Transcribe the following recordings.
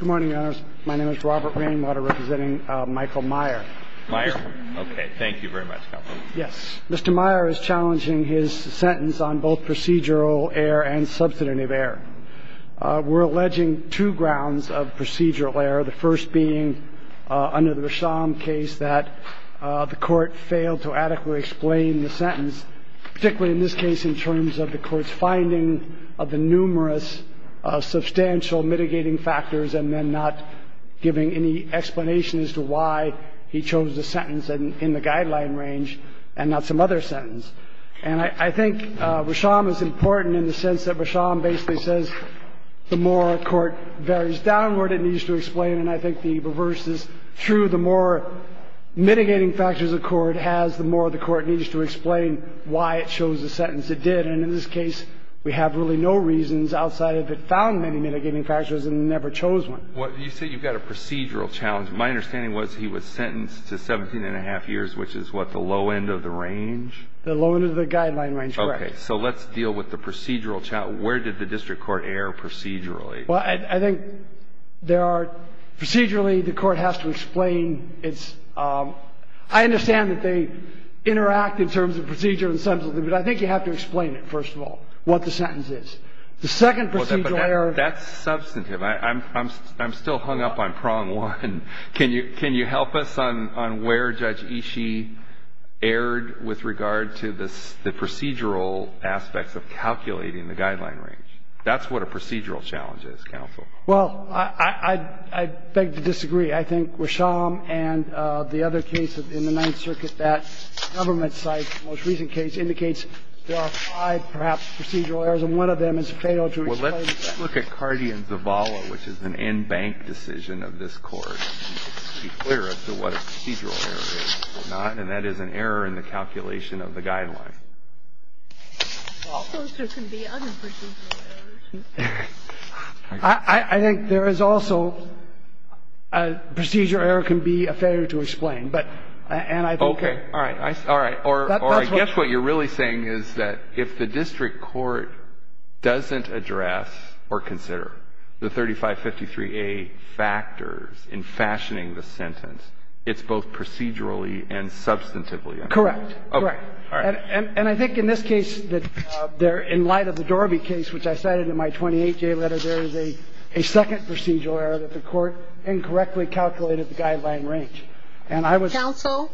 Mr. Maier is challenging his sentence on both procedural error and substantive error. We're alleging two grounds of procedural error, the first being under the Rasham case that the court failed to adequately explain the sentence, particularly in this case in terms of the court's finding of the numerous substantial mitigating factors and then not giving any explanation as to why he chose the sentence in the guideline range and not some other sentence. And I think Rasham is important in the sense that Rasham basically says the more a court varies downward, it needs to explain, and I think the reverse is true. The more mitigating factors a court has, the more the court needs to explain why it chose the sentence it did. And in this case, we have really no reasons outside of it found many mitigating factors and never chose one. Alito You say you've got a procedural challenge. My understanding was he was sentenced to 17 and a half years, which is what, the low end of the range? Michael Maier The low end of the guideline range, correct. Alito Okay. So let's deal with the procedural challenge. Where did the district court err procedurally? Michael Maier Well, I think there are – procedurally, the court has to explain its – I understand that they interact in terms of procedure and substantive, but I think you have to explain it, first of all, what the sentence is. The second procedural error – Alito That's substantive. I'm still hung up on prong one. Can you help us on where Judge Ishii erred with regard to the procedural aspects of calculating the guideline range? That's what a procedural challenge is, counsel. Michael Maier Well, I beg to disagree. I think Rasham and the other case in the Ninth Circuit, that government-side most recent case, indicates there are five, perhaps, procedural errors, and one of them is failed to explain the fact. Alito Well, let's look at Cardi and Zavala, which is an in-bank decision of this Court. It should be clear as to what a procedural error is or not, and that is an error in the calculation of the guideline. Sotomayor Well, there can be other procedural errors. Alito I think there is also – a procedure error can be a failure to explain, but – and I think that – Alito Okay. All right. All right. Or I guess what you're really saying is that if the district court doesn't address or consider the 3553A factors in fashioning the sentence, it's both procedurally and substantively incorrect. Alito Correct. Correct. And I think in this case, in light of the Dorby case, which I cited in my 28-J letter, there is a second procedural error that the Court incorrectly calculated the guideline range. And I was – Rolinson Counsel,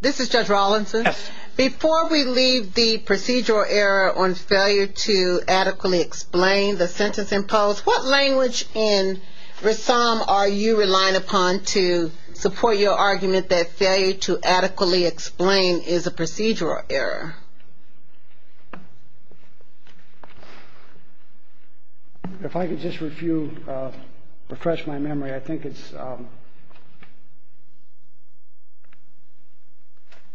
this is Judge Rolinson. Rolinson Yes. Rolinson Before we leave the procedural error on failure to adequately explain the sentence imposed, what language in Rasham are you relying upon to support your argument that failure to adequately explain is a procedural error? Alito If I could just refresh my memory. I think it's –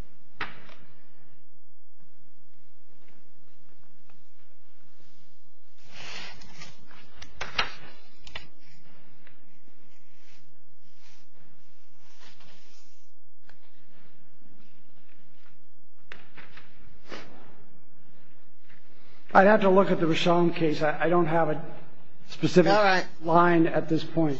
I'd have to look at the Rasham case. I don't have a specific line at this point.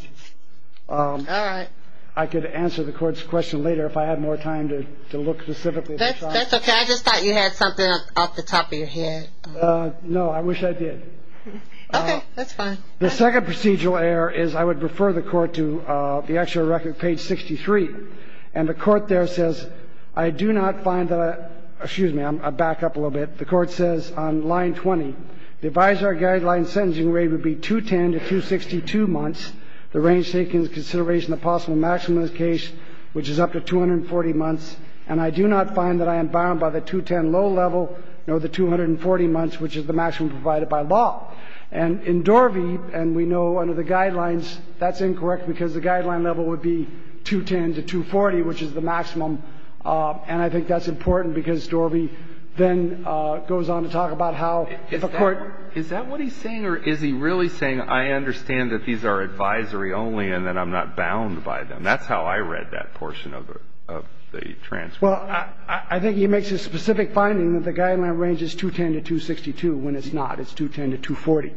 Rolinson All right. All right. Alito I could answer the Court's question later if I had more time to look specifically at Rasham. Rolinson That's okay. I just thought you had something off the top of your head. Alito No. I wish I did. Rolinson Okay. That's fine. Alito The second procedural error is I would refer the Court to the actual record, page 63. And the Court there says, I do not find that – excuse me. I'll back up a little bit. The Court says on line 20, the advisory guideline sentencing rate would be 210 to 262 months. The range taken in consideration of the possible maximum in this case, which is up to 240 months, and I do not find that I am bound by the 210 low level nor the 240 months, which is the maximum provided by law. And in Dorvey, and we know under the guidelines, that's incorrect because the guideline level would be 210 to 240, which is the maximum. And I think that's important because Dorvey then goes on to talk about how the Court – Alito Is that what he's saying or is he really saying I understand that these are advisory only and that I'm not bound by them? That's how I read that portion of the transcript. Rolinson Well, I think he makes a specific finding that the guideline range is 210 to 262 when it's not. It's 210 to 240.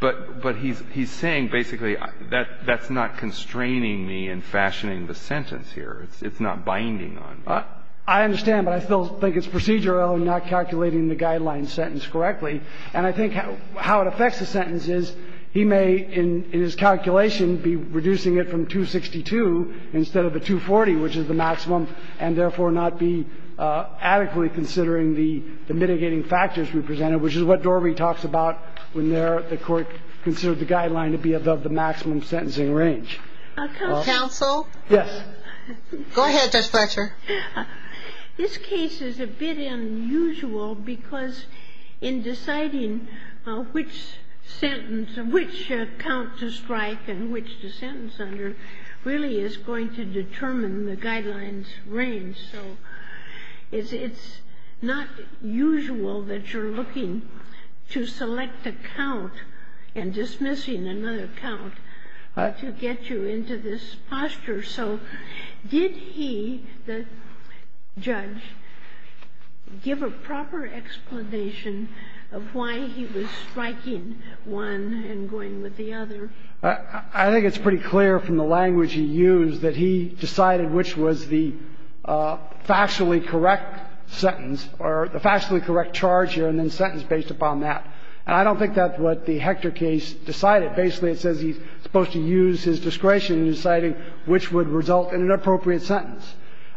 But he's saying basically that that's not constraining me in fashioning the sentence here. It's not binding on me. Kagan I understand, but I still think it's procedural in not calculating the guideline sentence correctly. And I think how it affects the sentence is he may, in his calculation, be reducing it from 262 instead of the 240, which is the maximum, and therefore not be adequately considering the mitigating factors we presented, which is what Dorvey talks about when there the Court considered the guideline to be above the maximum sentencing Sotomayor Counsel? Rolinson Yes. Sotomayor Go ahead, Judge Fletcher. Fletcher This case is a bit unusual because in deciding which sentence, which count to strike and which to sentence under really is going to determine the guideline's range. So it's not usual that you're looking to select a count and dismissing another count to get you into this posture. So did he, the judge, give a proper explanation of why he was striking one and going with the other? I think it's pretty clear from the language he used that he decided which was the factually correct sentence or the factually correct charge here and then sentence based upon that. And I don't think that's what the Hector case decided. Basically, it says he's supposed to use his discretion in deciding which would result in an appropriate sentence.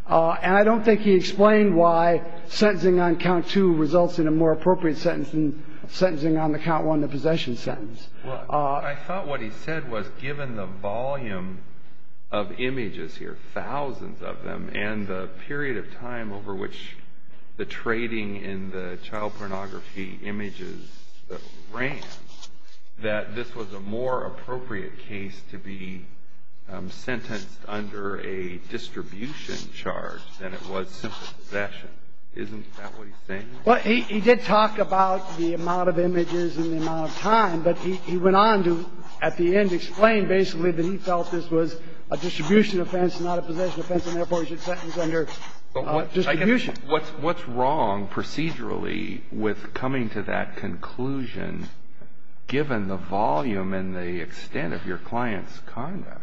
And I don't think he explained why sentencing on count two results in a more appropriate sentence than sentencing on the count one, the possession sentence. Well, I thought what he said was given the volume of images here, thousands of them, and the period of time over which the trading in the child pornography images ran, that this was a more appropriate case to be sentenced under a distribution charge than it was simply possession. Isn't that what he's saying? Well, he did talk about the amount of images and the amount of time, but he went on to at the end explain basically that he felt this was a distribution offense, not a possession offense, and therefore he should sentence under distribution. What's wrong procedurally with coming to that conclusion given the volume and the extent of your client's conduct?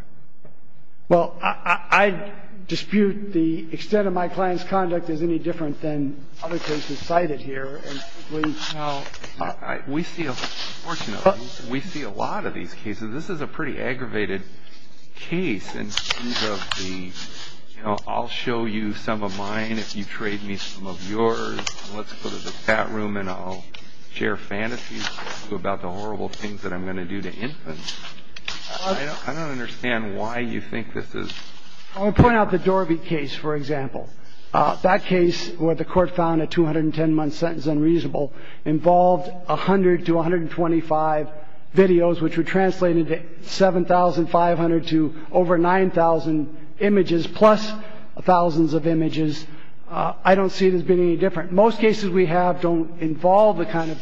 Well, I dispute the extent of my client's conduct as any different than other cases We're going to come to that together, much like the case against буде which services She got her disgraced because she was excited here. Now we feel fortunately we see a lot of these cases. This is a pretty aggravated case and I'll show you some of mine. If you trade me some of yours, let's put it at that room, and I'll share fantastic about the horrible things that I'm going to do to infants. I don't understand why you think this is. I'll point out the door of the case. For example, that case where the court found a two hundred and ten month sentence unreasonable involved a hundred to one hundred and twenty five videos, which were translated seven thousand five hundred to over nine thousand images, plus thousands of images. I don't see it as being any different. Most cases we have don't involve the kind of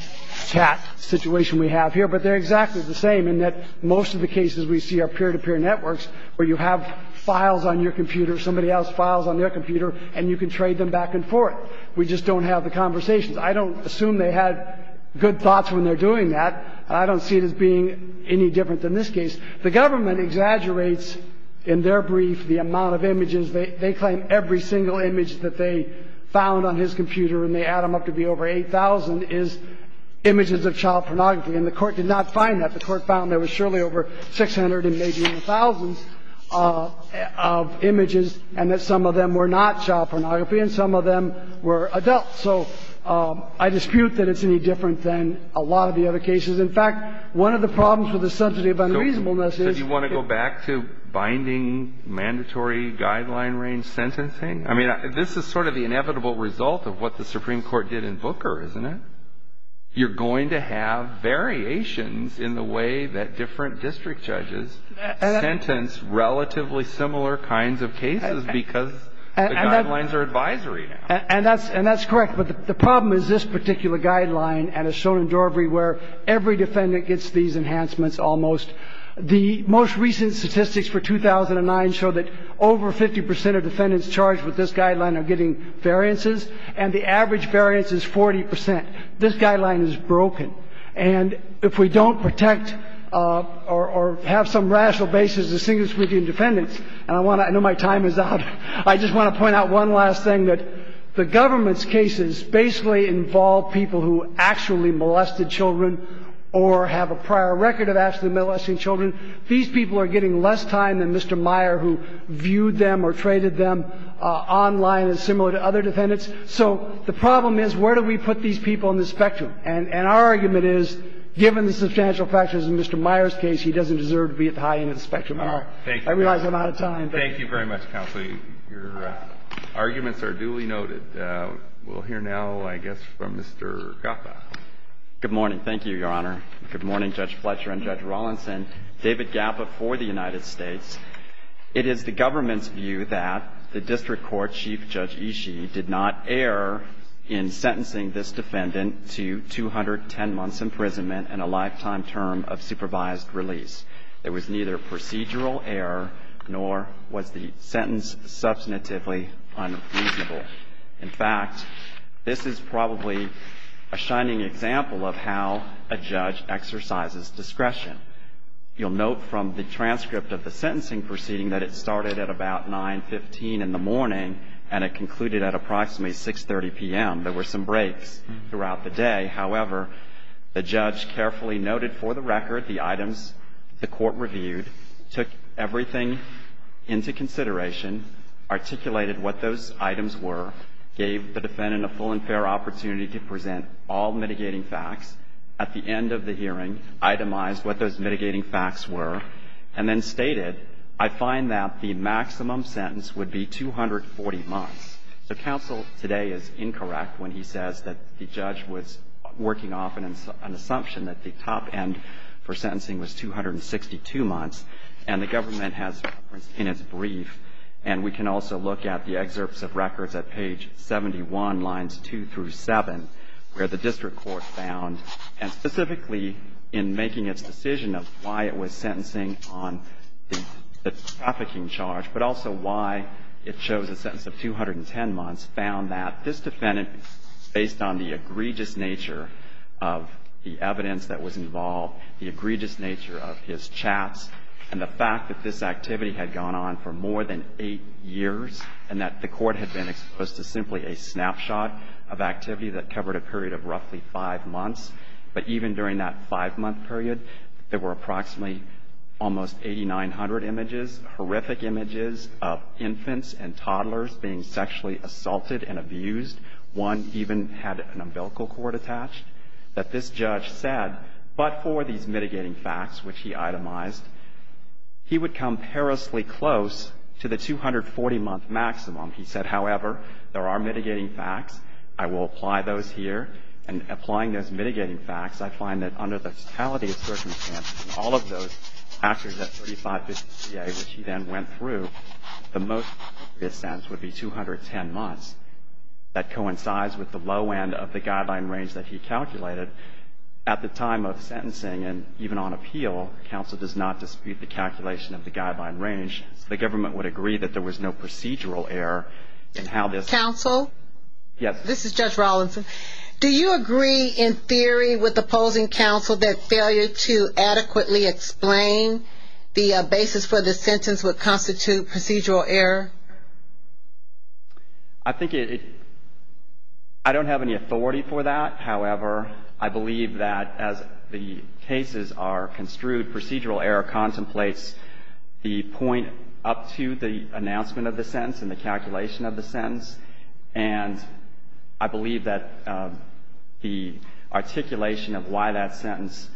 situation we have here, but they're exactly the same in that most of the cases we see are peer to peer networks where you have files on your computer, somebody else files on their computer and you can trade them back and forth. We just don't have the conversations. I don't assume they had good thoughts when they're doing that. I don't see it as being any different than this case. The government exaggerates in their brief the amount of images. They claim every single image that they found on his computer and they add them up to be over eight thousand is images of child pornography and the court did not find that. The court found there was surely over six hundred and maybe even thousands of images and that some of them were not child pornography and some of them were adults. So I dispute that it's any different than a lot of the other cases. In fact, one of the problems with the subject of unreasonableness is Do you want to go back to binding mandatory guideline range sentencing? I mean, this is sort of the inevitable result of what the Supreme Court did in Booker, isn't it? You're going to have variations in the way that different district judges sentence relatively similar kinds of cases because the guidelines are advisory. And that's correct, but the problem is this particular guideline and it's shown in Dorvery where every defendant gets these enhancements almost. The most recent statistics for 2009 show that over 50 percent of defendants charged with this guideline are getting variances and the average variance is 40 percent. This guideline is broken. And if we don't protect or have some rational basis to distinguish between defendants and I want to know my time is up. I just want to point out one last thing that the government's cases basically involve people who actually molested children or have a prior record of actually molesting children. These people are getting less time than Mr. Meyer who viewed them or traded them online and similar to other defendants. So the problem is where do we put these people in the spectrum? And our argument is given the substantial factors in Mr. Meyer's case, he doesn't deserve to be at the high end of the spectrum at all. I realize I'm out of time. Thank you very much, counsel. Your arguments are duly noted. We'll hear now, I guess, from Mr. Gaffa. Good morning. Thank you, Your Honor. Good morning, Judge Fletcher and Judge Rawlinson. David Gaffa for the United States. It is the government's view that the district court chief, Judge Ishii, did not err in sentencing this defendant to 210 months imprisonment and a lifetime term of supervised release. There was neither procedural error nor was the sentence substantively unreasonable. In fact, this is probably a shining example of how a judge exercises discretion. You'll note from the transcript of the sentencing proceeding that it started at about 9.15 in the morning and it concluded at approximately 6.30 p.m. There were some breaks throughout the day. However, the judge carefully noted for the record the items the court reviewed, took everything into consideration, articulated what those items were, gave the defendant a full and fair opportunity to present all mitigating facts, at the end of the hearing itemized what those mitigating facts were, and then stated, I find that the maximum sentence would be 240 months. So counsel today is incorrect when he says that the judge was working off an assumption that the top end for sentencing was 262 months, and the government has referenced in its brief. And we can also look at the excerpts of records at page 71, lines 2 through 7, where the district court found, and specifically in making its decision of why it was sentencing on the trafficking charge, but also why it chose a sentence of 210 months, found that this defendant, based on the egregious nature of the evidence that was involved, the egregious nature of his chats, and the fact that this activity had gone on for more than 8 years, and that the court had been exposed to simply a snapshot of activity that covered a period of roughly 5 months, but even during that 5-month period, there were approximately almost 8,900 images, horrific images of infants and toddlers being sexually assaulted and abused. One even had an umbilical cord attached, that this judge said, but for these mitigating facts, which he itemized, he would come perilously close to the 240-month maximum. He said, however, there are mitigating facts. I will apply those here. And applying those mitigating facts, I find that under the totality of circumstances, in all of those, after that 35 days, which he then went through, the most egregious sentence would be 210 months. That coincides with the low end of the guideline range that he calculated. At the time of sentencing, and even on appeal, counsel does not dispute the calculation of the guideline range. The government would agree that there was no procedural error in how this. Counsel? Yes. This is Judge Rawlinson. Do you agree in theory with opposing counsel that failure to adequately explain the basis for the sentence would constitute procedural error? I think it, I don't have any authority for that. However, I believe that as the cases are construed, procedural error contemplates the point up to the announcement of the sentence and the calculation of the sentence. And I believe that the articulation of why that sentence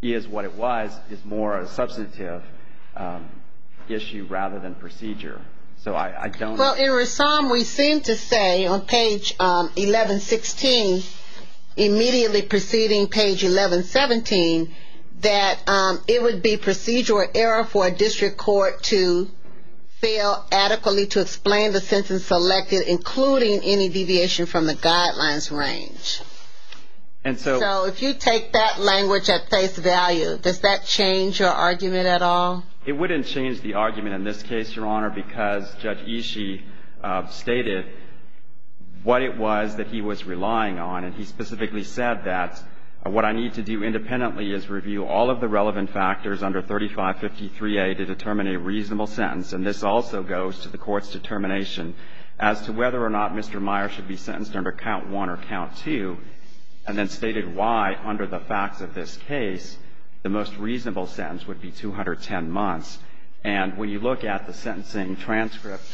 is what it was is more a substantive issue rather than procedure. So I don't. Well, in Ressam, we seem to say on page 1116, immediately preceding page 1117, that it would be procedural error for a district court to fail adequately to explain the sentence selected, including any deviation from the guidelines range. And so. So if you take that language at face value, does that change your argument at all? It wouldn't change the argument in this case, Your Honor, because Judge Ishii stated what it was that he was relying on. And he specifically said that what I need to do independently is review all of the relevant factors under 3553A to determine a reasonable sentence. And this also goes to the Court's determination as to whether or not Mr. Meyer should be sentenced under count one or count two, and then stated why, under the facts of this case, the most reasonable sentence would be 210 months. And when you look at the sentencing transcript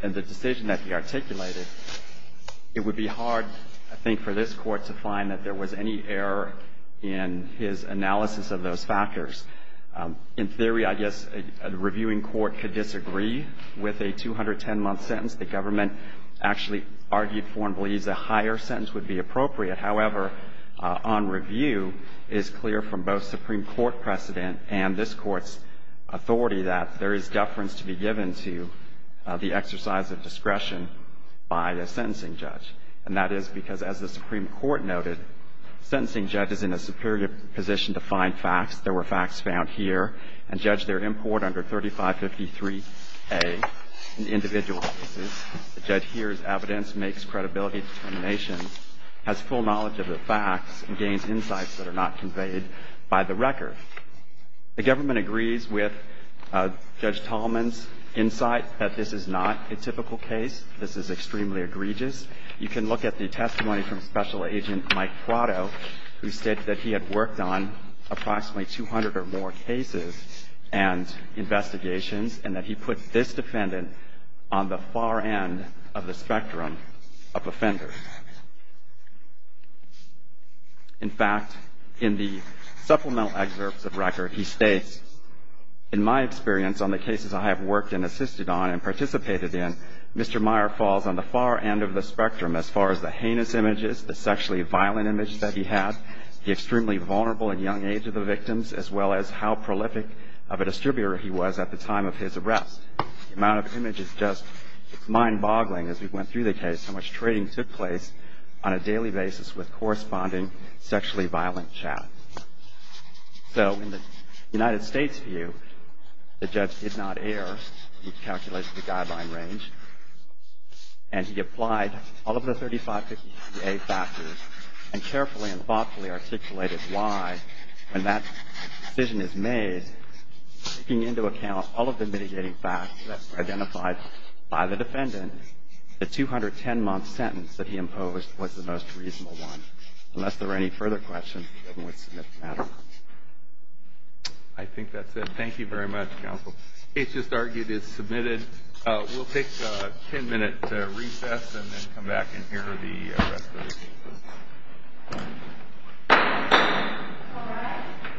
and the decision that he articulated, it would be hard, I think, for this Court to find that there was any error in his analysis of those factors. In theory, I guess a reviewing court could disagree with a 210-month sentence. The government actually argued for and believes a higher sentence would be appropriate. However, on review, it is clear from both Supreme Court precedent and this Court's authority that there And that is because, as the Supreme Court noted, sentencing judge is in a superior position to find facts. There were facts found here. And Judge, their import under 3553A in individual cases, the judge hears evidence, makes credibility determinations, has full knowledge of the facts, and gains insights that are not conveyed by the record. The government agrees with Judge Tallman's insight that this is not a typical case. This is extremely egregious. You can look at the testimony from Special Agent Mike Prado, who said that he had worked on approximately 200 or more cases and investigations, and that he put this defendant on the far end of the spectrum of offenders. In fact, in the supplemental excerpts of record, he states, In my experience on the cases I have worked and assisted on and participated in, Mr. Meyer falls on the far end of the spectrum as far as the heinous images, the sexually violent image that he had, the extremely vulnerable and young age of the victims, as well as how prolific of a distributor he was at the time of his arrest. The amount of image is just mind-boggling as we went through the case, how much trading took place on a daily basis with corresponding sexually violent chat. So in the United States view, the judge did not err. He calculated the guideline range. And he applied all of the 3550A factors and carefully and thoughtfully articulated why, when that decision is made, taking into account all of the mitigating facts that were identified by the defendant, the 210-month sentence that he imposed was the most reasonable one. I think that's it. Thank you very much, counsel. It's just argued it's submitted. We'll take a ten-minute recess and then come back and hear the rest of the case. All right.